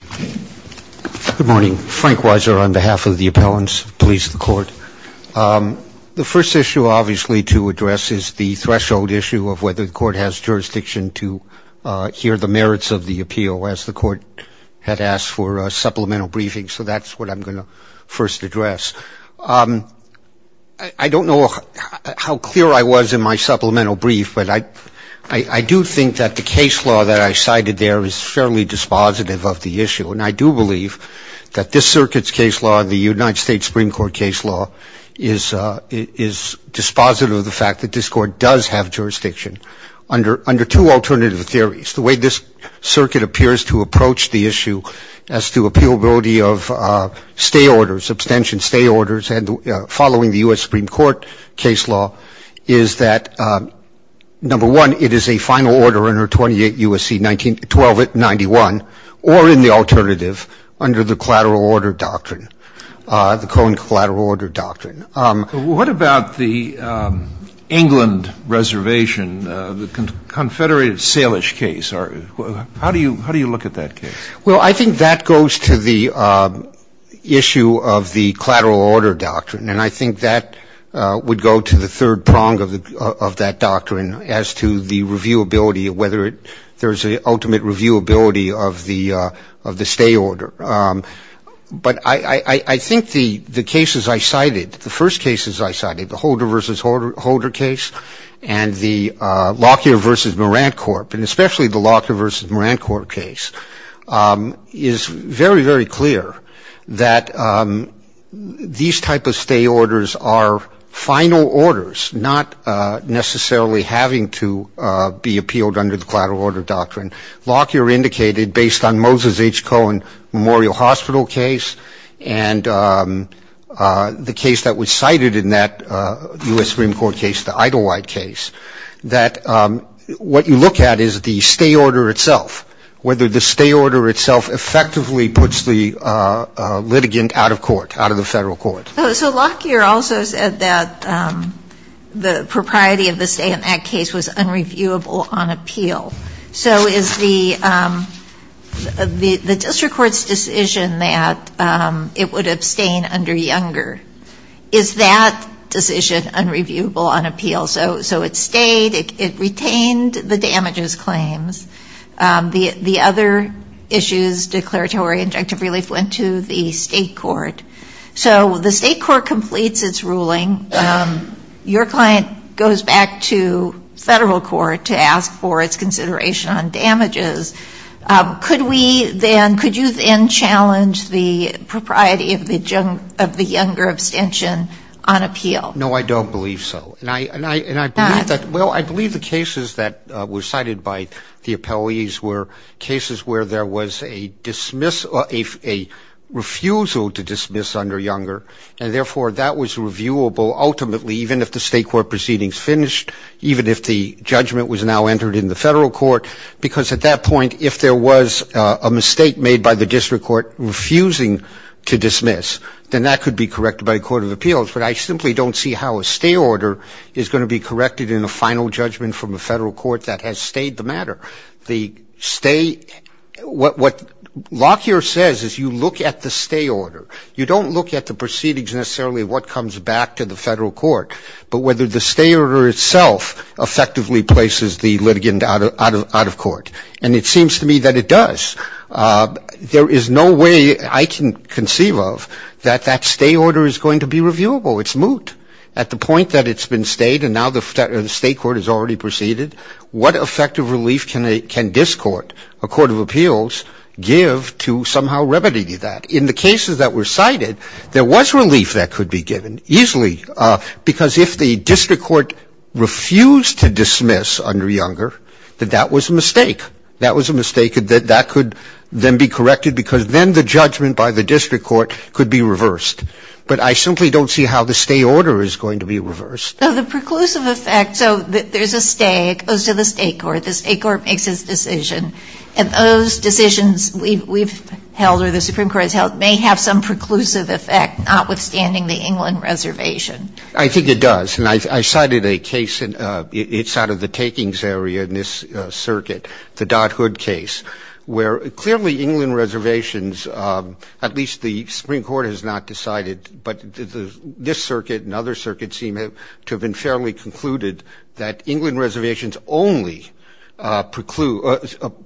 Good morning. Frank Weiser on behalf of the appellants, police, and the court. The first issue, obviously, to address is the threshold issue of whether the court has jurisdiction to hear the merits of the appeal, as the court had asked for a supplemental briefing. So that's what I'm going to first address. I don't know how clear I was in my supplemental brief, but I do think that the case law that I cited there is fairly dispositive of the issue. And I do believe that this circuit's case law, the United States Supreme Court case law, is dispositive of the fact that this court does have jurisdiction under two alternative theories. The way this circuit appears to approach the issue as to appealability of stay orders, and following the U.S. Supreme Court case law, is that, number one, it is a final order under 28 U.S.C. 1291, or in the alternative, under the collateral order doctrine, the Cohen collateral order doctrine. What about the England reservation, the Confederated Salish case? How do you look at that case? Well, I think that goes to the issue of the collateral order doctrine, and I think that would go to the third prong of that doctrine as to the reviewability, whether there's an ultimate reviewability of the stay order. But I think the cases I cited, the first cases I cited, the Holder v. Holder case, and the Lockyer v. Moran Corp., and especially the Lockyer v. Moran Corp. case, is very, very clear that these type of stay orders are final orders, not necessarily having to be appealed under the collateral order doctrine. Lockyer indicated, based on Moses H. Cohen Memorial Hospital case, and the case that was cited in that U.S. Supreme Court case, the Idelwhite case, that what you look at is the stay order itself, whether the stay order itself effectively puts the litigant out of court, out of the Federal court. So Lockyer also said that the propriety of the stay in that case was unreviewable on appeal. So is the district court's decision that it would abstain under Younger, is that decision unreviewable on appeal? So it stayed, it retained the damages claims. The other issues, declaratory and injunctive relief, went to the state court. So the state court completes its ruling. Your client goes back to Federal court to ask for its consideration on damages. Could we then, could you then challenge the propriety of the Younger abstention on appeal? No, I don't believe so. And I believe that, well, I believe the cases that were cited by the appellees were cases where there was a dismiss, a refusal to dismiss under Younger, and therefore that was reviewable ultimately, even if the state court proceedings finished, even if the judgment was now entered in the Federal court. Because at that point, if there was a mistake made by the district court refusing to dismiss, then that could be corrected by a court of appeals. But I simply don't see how a stay order is going to be corrected in a final judgment from a Federal court that has stayed the matter. The stay, what Lockyer says is you look at the stay order. You don't look at the proceedings necessarily what comes back to the Federal court, but whether the stay order itself effectively places the litigant out of court. And it seems to me that it does. There is no way I can conceive of that that stay order is going to be reviewable. It's moot. At the point that it's been stayed and now the state court has already proceeded, what effective relief can a, can this court, a court of appeals, give to somehow remedy that? In the cases that were cited, there was relief that could be given, easily, because if the district court refused to dismiss under Younger, that that was a mistake. That was a mistake. That could then be corrected because then the judgment by the district court could be reversed. But I simply don't see how the stay order is going to be reversed. So the preclusive effect, so there's a stay. It goes to the state court. The state court makes its decision. And those decisions we've held or the Supreme Court has held may have some preclusive effect, notwithstanding the England reservation. I think it does. And I cited a case, it's out of the takings area in this circuit, the Dodd-Hood case, where clearly England reservations, at least the Supreme Court has not decided, but this circuit and other circuits seem to have been fairly concluded that England reservations only prevent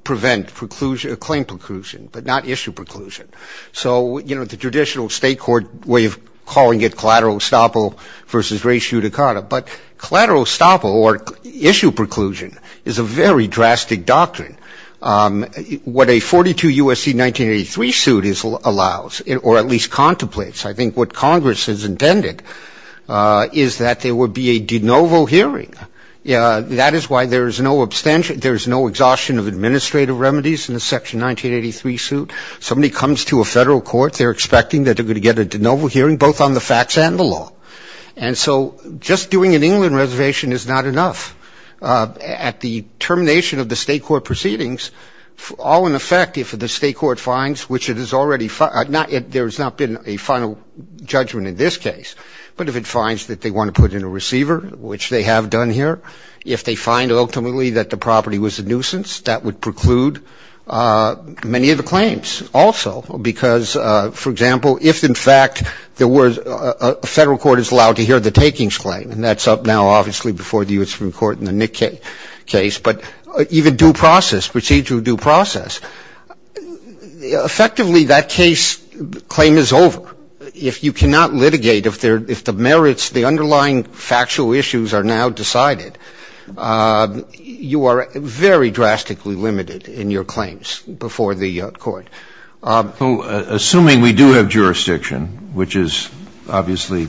claim preclusion, but not issue preclusion. So, you know, the traditional state court way of calling it collateral estoppel versus res judicata. But collateral estoppel or issue preclusion is a very drastic doctrine. What a 42 U.S.C. 1983 suit allows, or at least contemplates, I think what Congress has intended, is that there would be a de novo hearing. That is why there is no abstention, there is no exhaustion of administrative remedies in the section 1983 suit. Somebody comes to a federal court, they're expecting that they're going to get a de novo hearing, both on the facts and the law. And so just doing an England reservation is not enough. At the termination of the state court proceedings, all in effect, if the state court finds, which it has already, there has not been a final judgment in this case, but if it finds that they want to put in a receiver, which they have done here, if they find ultimately that the property was a nuisance, that would preclude many of the claims. Also, because, for example, if in fact there were, a federal court is allowed to hear the takings claim, and that's up now obviously before the U.S. Supreme Court in the Nick case, but even due process, procedural due process, effectively that case, claim is over. If you cannot litigate, if the merits, the underlying factual issues are now decided, you are very drastically limited in your claims before the court. So assuming we do have jurisdiction, which is obviously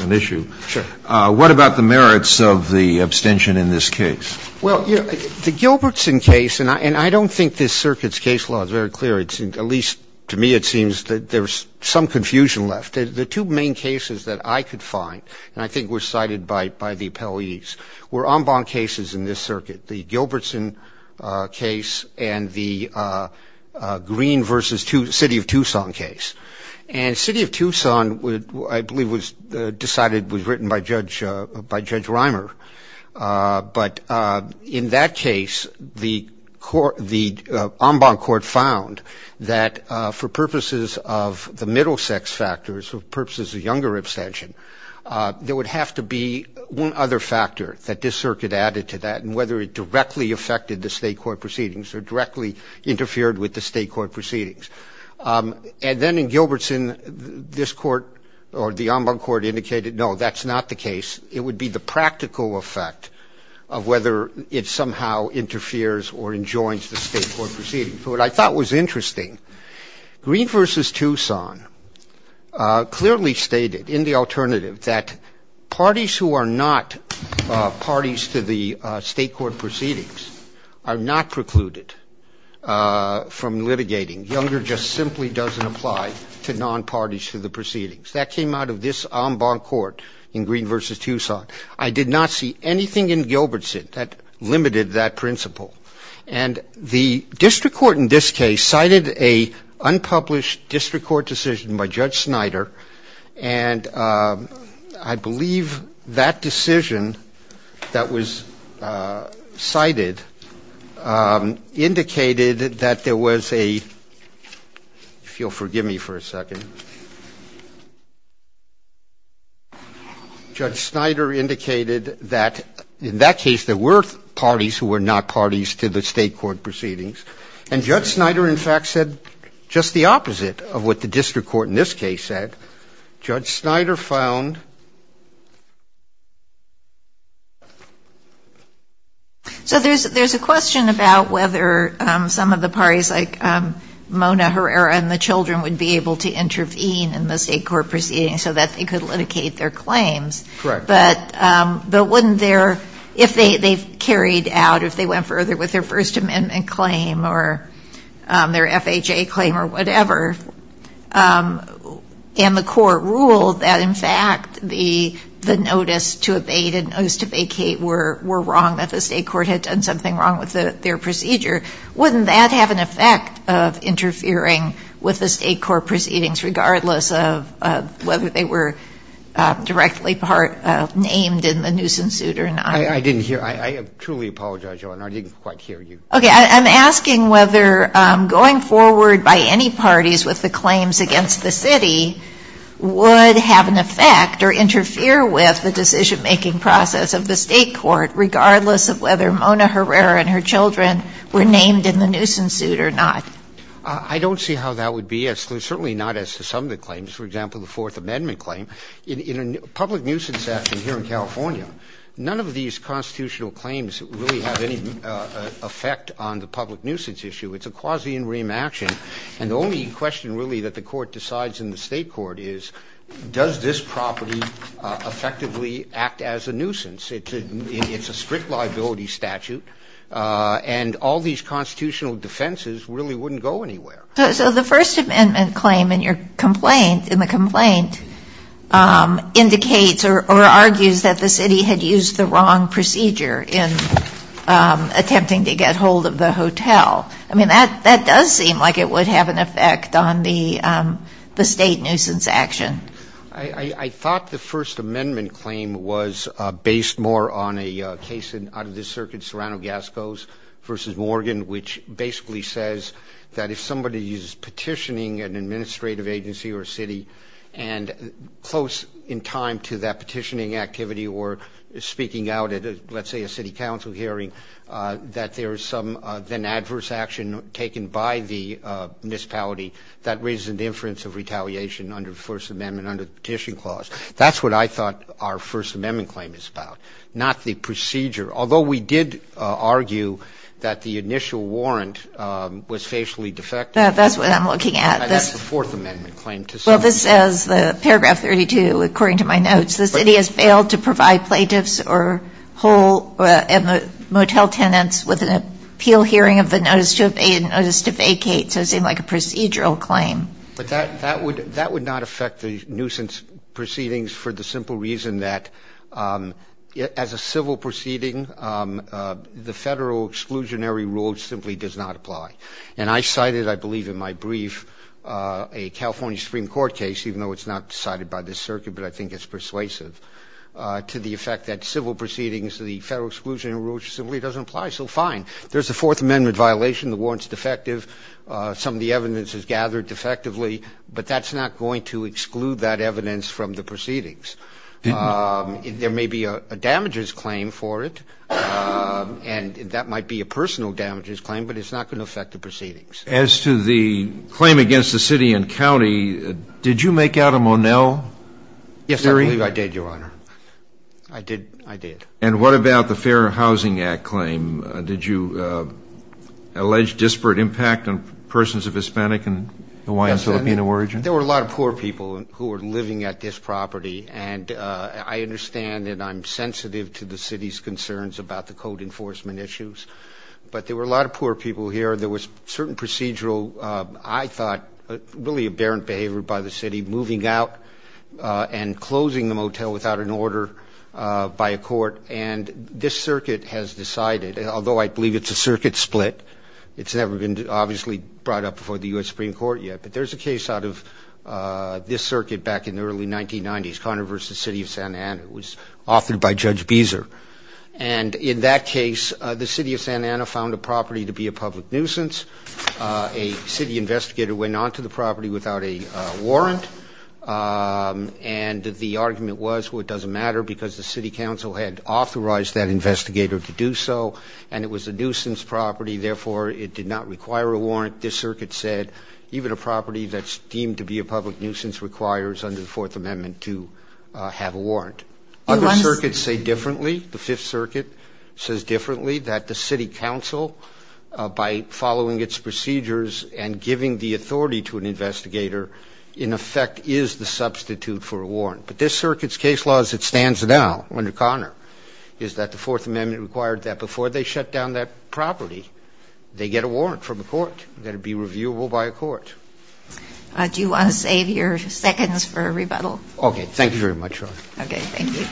an issue, what about the Gilbertson case? Well, the Gilbertson case, and I don't think this circuit's case law is very clear, at least to me it seems that there's some confusion left. The two main cases that I could find, and I think were cited by the appellees, were en banc cases in this circuit, the Gilbertson case and the Green versus City of Tucson case. And City of Tucson, I believe, was decided, was written by Judge Reimer. But in that case, the court, the en banc court found that for purposes of the middle sex factors, for purposes of younger abstention, there would have to be one other factor that this circuit added to that, and whether it directly affected the state court proceedings or directly interfered with the state court proceedings. And then in Gilbertson, this court or the en banc court indicated, no, that's not the case, it would be the practical effect of whether it somehow interferes or enjoins the state court proceedings. What I thought was interesting, Green versus Tucson clearly stated in the alternative that parties who are not parties to the state court proceedings are not precluded from litigating. Younger just simply doesn't apply to non-parties to the proceedings. That came out of this en banc court in Green versus Tucson. I did not see anything in Gilbertson that limited that principle. And the district court in this case cited an unpublished district court decision by Judge Snyder. And I believe that decision that was cited indicated that there was a, if you'll believe the district court decision, Judge Snyder indicated that in that case there were parties who were not parties to the state court proceedings. And Judge Snyder, in fact, said just the opposite of what the district court in this case said. Judge Snyder found so there's a question about whether some of the parties like the district court in this case, if they were to intervene in the state court proceedings so that they could litigate their claims. But wouldn't their, if they carried out, if they went further with their First Amendment claim or their FHA claim or whatever, and the court ruled that in fact the notice to abate and notice to vacate were wrong, that the state court had done something wrong with their procedure, wouldn't that have an effect of interfering with the state court proceedings regardless of whether they were directly named in the nuisance suit or not? I didn't hear. I truly apologize, Your Honor. I didn't quite hear you. Okay. I'm asking whether going forward by any parties with the claims against the city would have an effect or interfere with the decision-making process of the state court regardless of whether Mona Herrera and her children were named in the nuisance suit or not. I don't see how that would be, certainly not as to some of the claims. For example, the Fourth Amendment claim. In a public nuisance action here in California, none of these constitutional claims really have any effect on the public nuisance issue. It's a quasi-in riem action. And the only question really that the court decides in the state court is does this have an effect on the state nuisance action? I mean, it's a strict liability statute. And all these constitutional defenses really wouldn't go anywhere. So the First Amendment claim in your complaint, in the complaint, indicates or argues that the city had used the wrong procedure in attempting to get hold of the hotel. I mean, that does seem like it would have an effect on the state nuisance action. There's a case out of this circuit, Serrano-Gascos v. Morgan, which basically says that if somebody is petitioning an administrative agency or city and close in time to that petitioning activity or speaking out at, let's say, a city council hearing, that there is some then adverse action taken by the municipality that raises an inference of retaliation under the First Amendment under the petition clause. That's what I thought our First Amendment claim is about, not the procedure. Although we did argue that the initial warrant was facially defective. That's what I'm looking at. And that's the Fourth Amendment claim. Well, this says, paragraph 32, according to my notes, the city has failed to provide plaintiffs or whole motel tenants with an appeal hearing of the notice to evade a notice to vacate. So it seemed like a procedural claim. But that would not affect the nuisance proceedings for the simple reason that as a civil proceeding, the federal exclusionary rule simply does not apply. And I cited, I believe in my brief, a California Supreme Court case, even though it's not decided by this circuit, but I think it's persuasive, to the effect that civil proceedings, the federal exclusionary rule simply doesn't apply. So fine. There's a Fourth Amendment violation. The warrant's defective. Some of the evidence is gathered defectively. But that's not going to exclude that evidence from the proceedings. There may be a damages claim for it, and that might be a personal damages claim, but it's not going to affect the proceedings. As to the claim against the city and county, did you make out a Monell hearing? Yes, I believe I did, Your Honor. I did. I did. And what about the Fair Housing Act claim? Did you allege disparate impact on persons of Hispanic and Hawaiian-Filipino origin? Yes, I did. There were a lot of poor people who were living at this property, and I understand and I'm sensitive to the city's concerns about the code enforcement issues. But there were a lot of poor people here. There was certain procedural, I thought, really aberrant behavior by the city, and this circuit has decided, although I believe it's a circuit split, it's never been obviously brought up before the U.S. Supreme Court yet, but there's a case out of this circuit back in the early 1990s, Conner v. City of Santa Ana. It was authored by Judge Beezer. And in that case, the city of Santa Ana found the property to be a public nuisance. A city investigator went onto the property without a warrant, and the argument was, well, it doesn't matter, because the city council had authorized that investigator to do so, and it was a nuisance property, therefore it did not require a warrant. This circuit said even a property that's deemed to be a public nuisance requires, under the Fourth Amendment, to have a warrant. Other circuits say differently. The Fifth Circuit says differently that the city council, by following its procedures and giving the authority to an investigator, in effect is the substitute for a warrant. But this circuit's case law, as it stands now under Conner, is that the Fourth Amendment required that before they shut down that property, they get a warrant from the court, that it be reviewable by a court. Do you want to save your seconds for a rebuttal? Okay. Thank you very much, Your Honor. Okay. Thank you.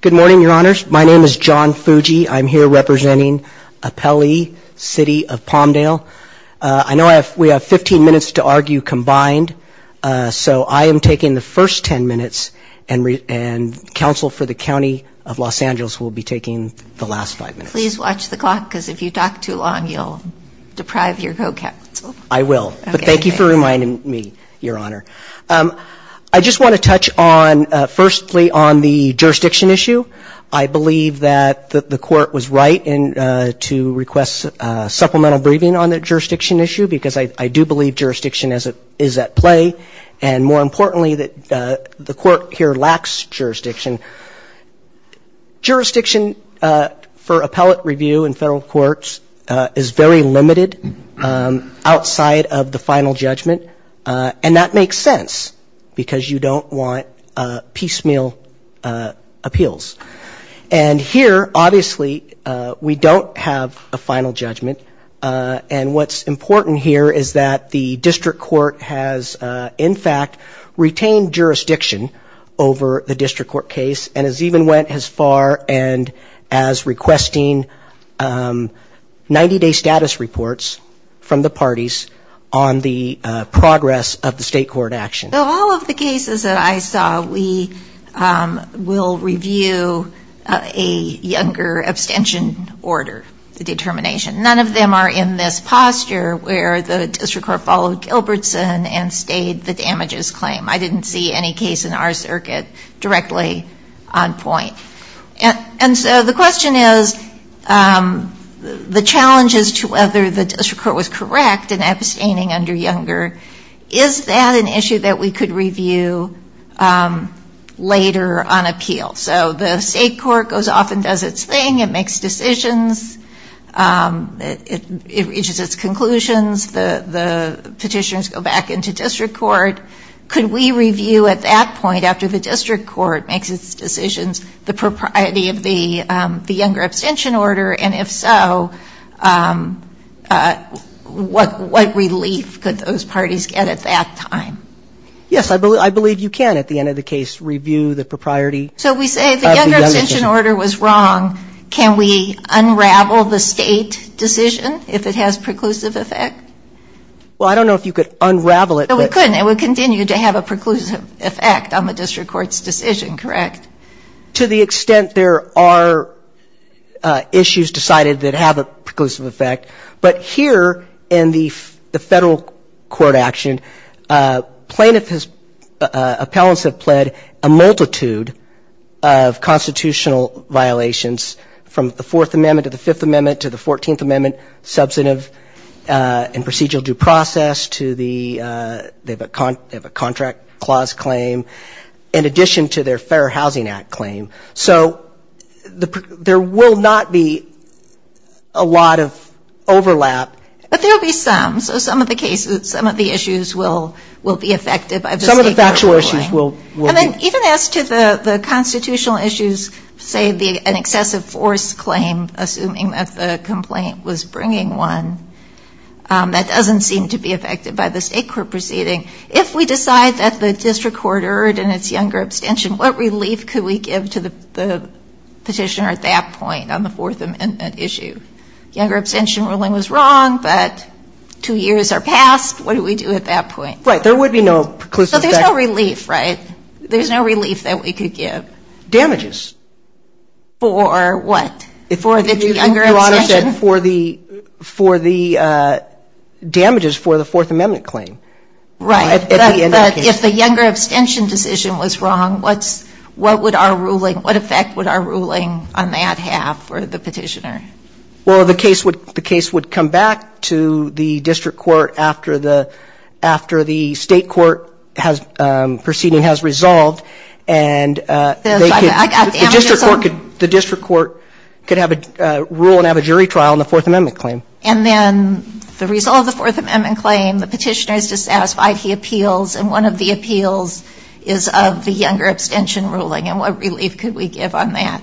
Good morning, Your Honors. My name is John Fuji. I'm here representing Appellee City of Palmdale. I know we have 15 minutes to argue combined, so I am taking the first 10 minutes, and counsel for the County of Los Angeles will be taking the last five minutes. Please watch the clock because if you talk too long, you'll deprive your co-counsel. I will. But thank you for reminding me, Your Honor. I just want to touch on, firstly, on the jurisdiction issue. I believe that the court was right to request supplemental briefing on the jurisdiction issue because I do believe jurisdiction is at play, and more importantly that the court here lacks jurisdiction. Jurisdiction for appellate review in federal courts is very limited outside of the final judgment, and that makes sense because you don't want piecemeal appeals. And here, obviously, we don't have a final judgment, and what's important here is that the district court has, in fact, retained jurisdiction over the district court case and has even went as far as requesting 90-day status reports from the parties on the progress of the state court action. Of all of the cases that I saw, we will review a younger abstention order determination. None of them are in this posture where the district court followed Gilbertson and stayed the damages claim. I didn't see any case in our circuit directly on point. And so the question is, the challenges to whether the district court was correct in abstaining under younger, is that an issue that we could review later on appeal? So the state court goes off and does its thing. It makes decisions. It reaches its conclusions. The petitions go back into district court. Could we review at that point, after the district court makes its decisions, the propriety of the younger abstention order? And if so, what relief could those parties get at that time? Yes, I believe you can, at the end of the case, review the propriety of the younger abstention order. So we say the younger abstention order was wrong. Can we unravel the state decision if it has preclusive effect? Well, I don't know if you could unravel it. We couldn't. It would continue to have a preclusive effect on the district court's decision, correct? To the extent there are issues decided that have a preclusive effect. But here in the federal court action, plaintiffs' appellants have pled a multitude of constitutional violations, from the Fourth Amendment to the Fifth Amendment to the Fourteenth Amendment, substantive and procedural due process to the contract clause claim, in addition to their Fair Housing Act claim. So there will not be a lot of overlap. But there will be some. So some of the cases, some of the issues will be affected by the state court ruling. Some of the factual issues will be. And then even as to the constitutional issues, say an excessive force claim, assuming that the complaint was bringing one, that doesn't seem to be affected by the state court proceeding. If we decide that the district court erred in its younger abstention, what relief could we give to the petitioner at that point on the Fourth Amendment issue? Younger abstention ruling was wrong, but two years are past. What do we do at that point? Right. There would be no preclusive effect. So there's no relief, right? There's no relief that we could give. Damages. For what? For the younger abstention. Your Honor said for the damages for the Fourth Amendment claim. Right. But if the younger abstention decision was wrong, what would our ruling, what effect would our ruling on that have for the petitioner? Well, the case would come back to the district court after the state court proceeding has resolved. And the district court could have a rule and have a jury trial on the Fourth Amendment claim. And then the result of the Fourth Amendment claim, the petitioner is dissatisfied, he appeals, and one of the appeals is of the younger abstention ruling. And what relief could we give on that?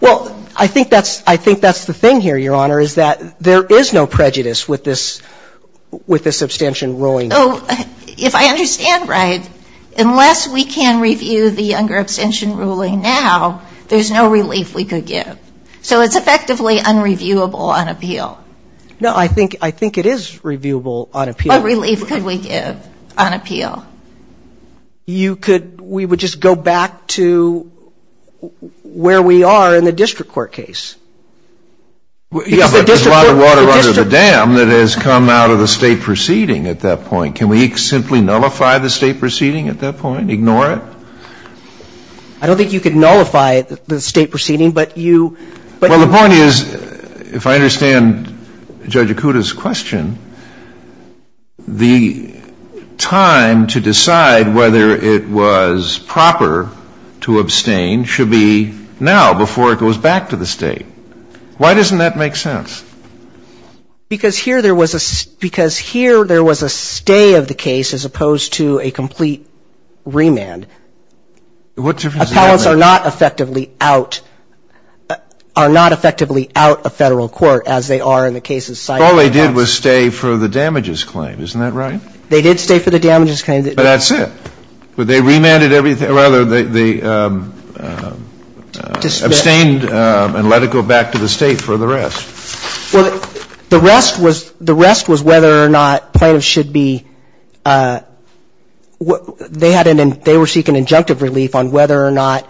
Well, I think that's the thing here, Your Honor, is that there is no prejudice with this abstention ruling. If I understand right, unless we can review the younger abstention ruling now, there's no relief we could give. So it's effectively unreviewable on appeal. No, I think it is reviewable on appeal. What relief could we give on appeal? You could, we would just go back to where we are in the district court case. Yeah, but there's a lot of water under the dam that has come out of the state proceeding at that point. Can we simply nullify the state proceeding at that point, ignore it? I don't think you could nullify the state proceeding, but you – Well, the point is, if I understand Judge Akuta's question, the time to decide whether it was proper to abstain should be now, before it goes back to the state. Why doesn't that make sense? Because here there was a stay of the case as opposed to a complete remand. What difference does that make? Appellants are not effectively out, are not effectively out of Federal court, as they are in the case's site. But all they did was stay for the damages claim. Isn't that right? They did stay for the damages claim. But that's it. They remanded everything, or rather they abstained and let it go back to the state for the rest. Well, the rest was, the rest was whether or not plaintiffs should be, they had an injunctive relief on whether or not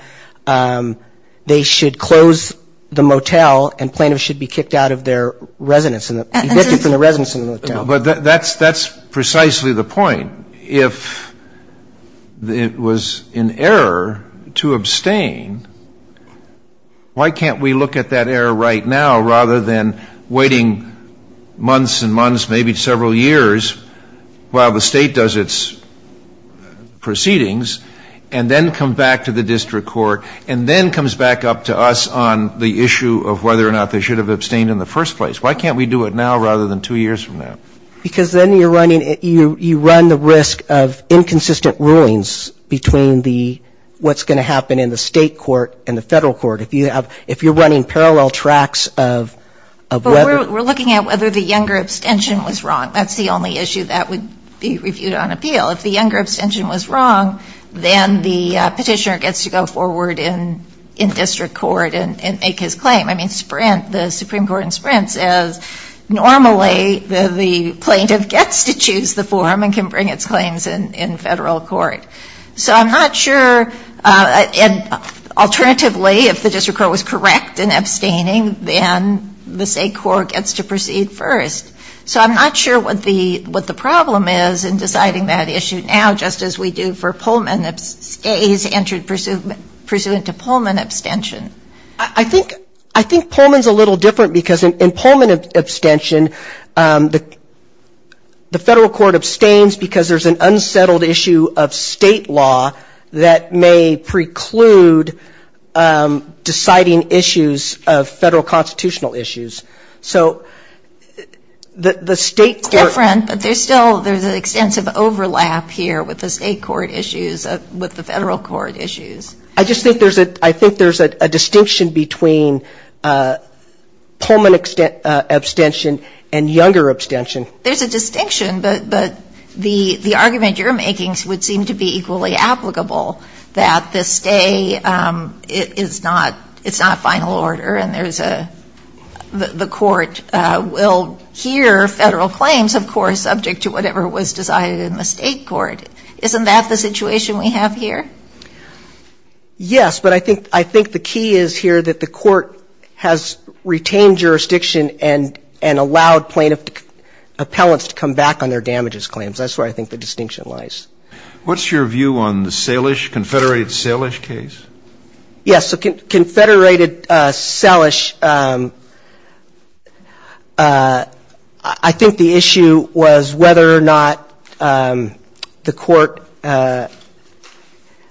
they should close the motel and plaintiffs should be kicked out of their residence, evicted from the residence of the motel. But that's precisely the point. If it was an error to abstain, why can't we look at that error right now rather than waiting months and months, maybe several years while the State does its proceeding and then comes back to the district court and then comes back up to us on the issue of whether or not they should have abstained in the first place. Why can't we do it now rather than two years from now? Because then you're running, you run the risk of inconsistent rulings between the what's going to happen in the State court and the Federal court. If you have, if you're running parallel tracks of whether. But we're looking at whether the younger abstention was wrong. That's the only issue that would be reviewed on appeal. If the younger abstention was wrong, then the petitioner gets to go forward in district court and make his claim. I mean, Sprint, the Supreme Court in Sprint says normally the plaintiff gets to choose the form and can bring its claims in Federal court. So I'm not sure, and alternatively, if the district court was correct in abstaining, then the State court gets to proceed first. So I'm not sure what the problem is in deciding that issue now just as we do for Pullman abstains pursuant to Pullman abstention. I think Pullman's a little different because in Pullman abstention, the Federal court abstains because there's an unsettled issue of State law that may preclude deciding issues of Federal constitutional issues. So the State court ‑‑ It's different, but there's still, there's an extensive overlap here with the State court issues, with the Federal court issues. I just think there's a, I think there's a distinction between Pullman abstention and younger abstention. There's a distinction, but the argument you're making would seem to be equally applicable, that the State is not, it's not final order and there's a, the court will hear Federal claims, of course, subject to whatever was decided in the State court. Isn't that the situation we have here? Yes, but I think the key is here that the court has retained jurisdiction and allowed plaintiff appellants to come back on their damages claims. That's where I think the distinction lies. What's your view on the Salish, Confederate Salish case? Yes, so Confederated Salish, I think the issue was whether or not the court,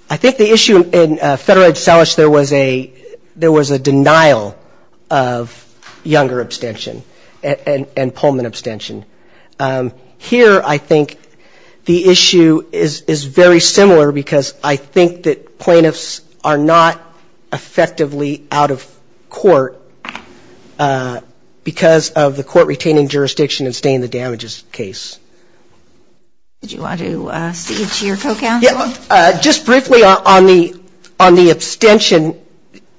I think the issue in Federated Salish, there was a, there was a denial of younger abstention and Pullman abstention. Here I think the issue is very similar because I think that plaintiffs are not effectively out of court because of the court retaining jurisdiction and staying in the damages case. Did you want to speak to your co-counsel? Just briefly on the, on the abstention,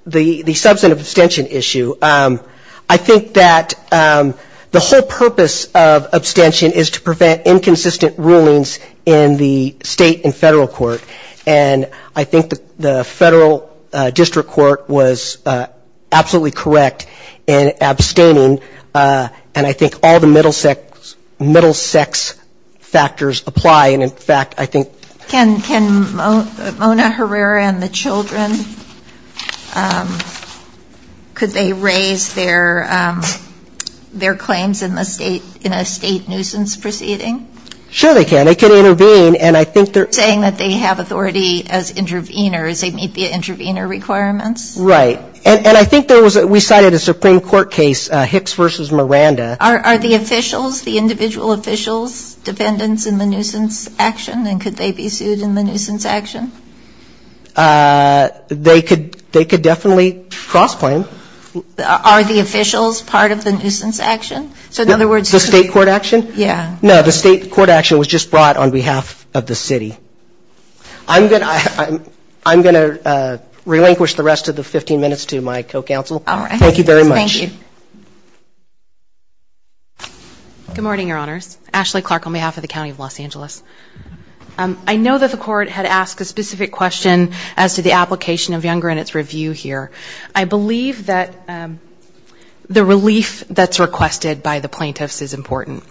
the substantive abstention issue. I think that the whole purpose of abstention is to prevent inconsistent rulings in the State and Federal court. And I think the Federal district court was absolutely correct in abstaining and I think all the middle sex, middle sex factors apply. And in fact, I think. Can, can Mona Herrera and the children, could they raise their, their claims in the State, in a State nuisance proceeding? Sure they can. They can intervene and I think they're. Saying that they have authority as interveners, they meet the intervener requirements. Right. And I think there was, we cited a Supreme Court case, Hicks versus Miranda. Are the officials, the individual officials, dependents in the nuisance action and could they be sued in the nuisance action? They could, they could definitely cross-claim. Are the officials part of the nuisance action? So in other words. The State court action? Yeah. No, the State court action was just brought on behalf of the City. I'm going to, I'm going to relinquish the rest of the 15 minutes to my co-counsel. Thank you very much. Good morning, Your Honors. Ashley Clark on behalf of the County of Los Angeles. I know that the court had asked a specific question as to the application of Younger and its review here. I believe that the relief that's requested by the plaintiffs is important.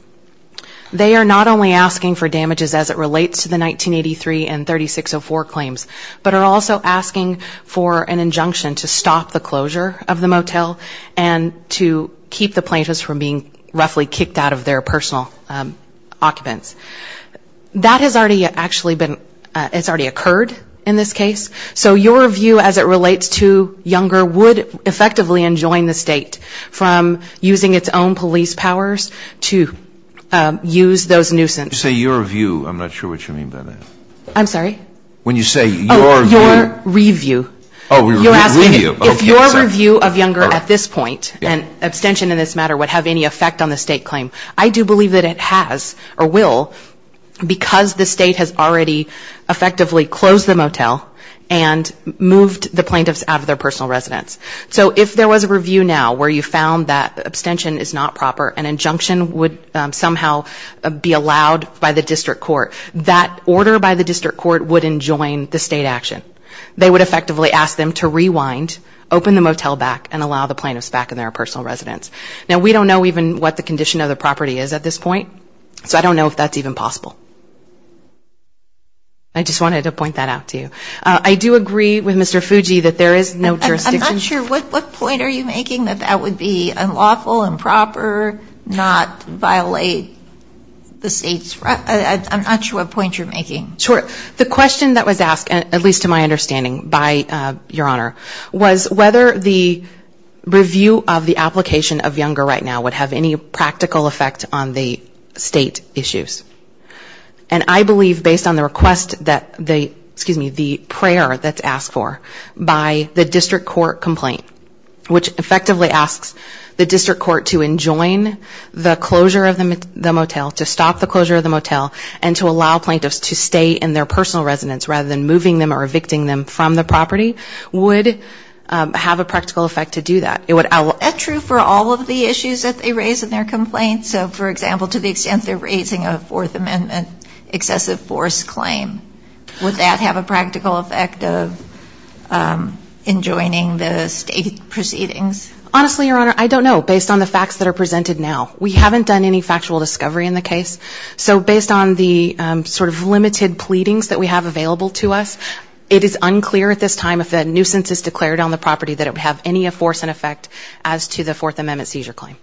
They are not only asking for damages as it relates to the 1983 and 3604 claims, but are also asking for an injunction to stop the closure of the motel and to keep the plaintiffs from being roughly kicked out of their personal occupants. That has already actually been, it's already occurred in this case. So your view as it relates to Younger would effectively enjoin the State from using its own police powers to use those nuisances. You say your view. I'm not sure what you mean by that. I'm sorry? When you say your view. Your review. If your review of Younger at this point, and abstention in this matter would have any effect on the State claim. I do believe that it has or will because the State has already effectively closed the motel and moved the plaintiffs out of their personal residence. So if there was a review now where you found that abstention is not proper, an injunction would somehow be allowed by the district court. That order by the district court would enjoin the State action. They would effectively ask them to rewind, open the motel back and allow the plaintiffs back in their personal residence. Now we don't know even what the condition of the property is at this point. So I don't know if that's even possible. I just wanted to point that out to you. I do agree with Mr. Fuji that there is no jurisdiction. I'm not sure, what point are you making that that would be unlawful, improper, not violate the State's rights? I'm not sure what point you're making. Sure. The question that was asked, at least to my understanding, by Your Honor, was whether the review of the application of Younger right now would have any practical effect on the State issues. And I believe, based on the request that they, excuse me, the prayer that's asked for by the district court complaint, which effectively asks the district court to review the application of Younger right now and ask the district court to enjoin the closure of the motel, to stop the closure of the motel, and to allow plaintiffs to stay in their personal residence rather than moving them or evicting them from the property, would have a practical effect to do that. Would that be true for all of the issues that they raise in their complaints? So, for example, to the extent they're raising a Fourth Amendment excessive force claim, would that have a practical effect of enjoining the State proceedings? Honestly, Your Honor, I don't know, based on the facts that are presented now. We haven't done any factual discovery in the case. So based on the sort of limited pleadings that we have available to us, it is unclear at this time if the nuisance is declared on the property that it would have any force and effect as to the Fourth Amendment seizure claim.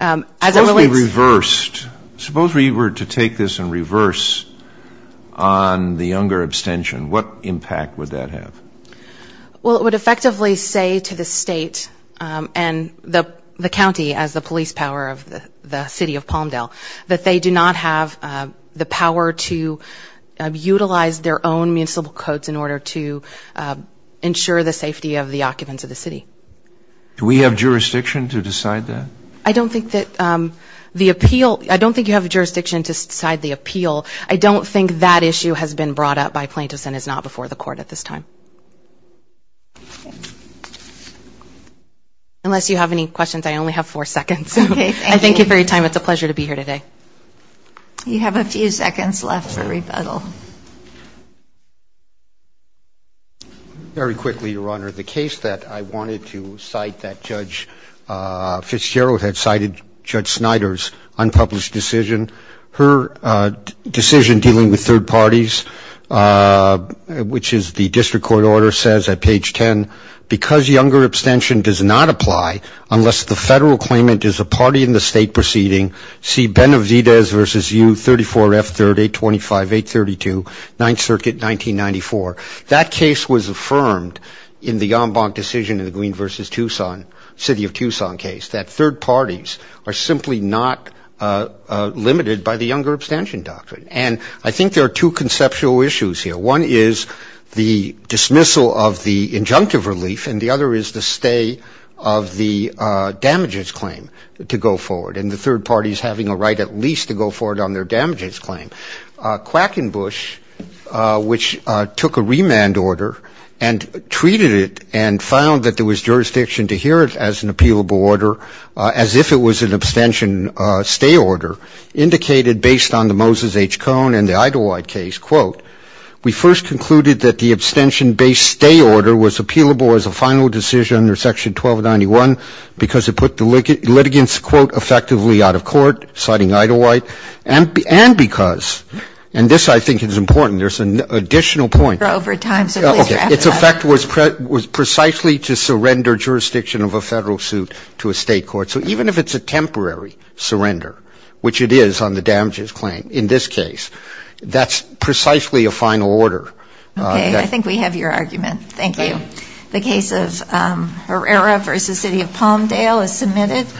Supposed we reversed, suppose we were to take this and reverse on the Younger abstention, what impact would that have? Well, it would effectively say to the State and the county as the police power of the city of Palmdale that they do not have the power to utilize their own municipal codes in order to ensure the safety of the occupants of the city. Do we have jurisdiction to decide that? I don't think that the appeal, I don't think you have jurisdiction to decide the appeal. I don't think that issue has been brought up by plaintiffs and is not before the court at this time. Unless you have any questions, I only have four seconds. I thank you for your time. It's a pleasure to be here today. You have a few seconds left for rebuttal. Very quickly, Your Honor. The case that I wanted to cite that Judge Fitzgerald had cited, Judge Snyder's unpublished decision. Her decision dealing with third parties, which is the district court order says at page 10, because younger abstention does not apply unless the federal claimant is a party in the state proceeding, see Benavidez v. U. 34F3825832, 9th Circuit, 1994. That case was affirmed in the en banc decision in the Green v. Tucson, city of Tucson case, that third parties are simply not limited by the younger abstention doctrine. And I think there are two conceptual issues here. One is the dismissal of the injunctive relief and the other is the stay of the damages claim to go forward. And the third party is having a right at least to go forward on their damages claim. Quackenbush, which took a remand order and treated it and found that there was jurisdiction to hear it as an appealable order, as if it was an abstention stay order, indicated based on the Moses H. Quote, we first concluded that the abstention-based stay order was appealable as a final decision under section 1291 because it put the litigants, quote, effectively out of court, citing Idlewhite, and because, and this I think is important, there's an additional point. It's effect was precisely to surrender jurisdiction of a federal suit to a state court. So even if it's a temporary surrender, which it is on the damages claim in this case, that's precisely a final order. Okay. I think we have your argument. Thank you. The case of Herrera v. City of Palmdale is submitted.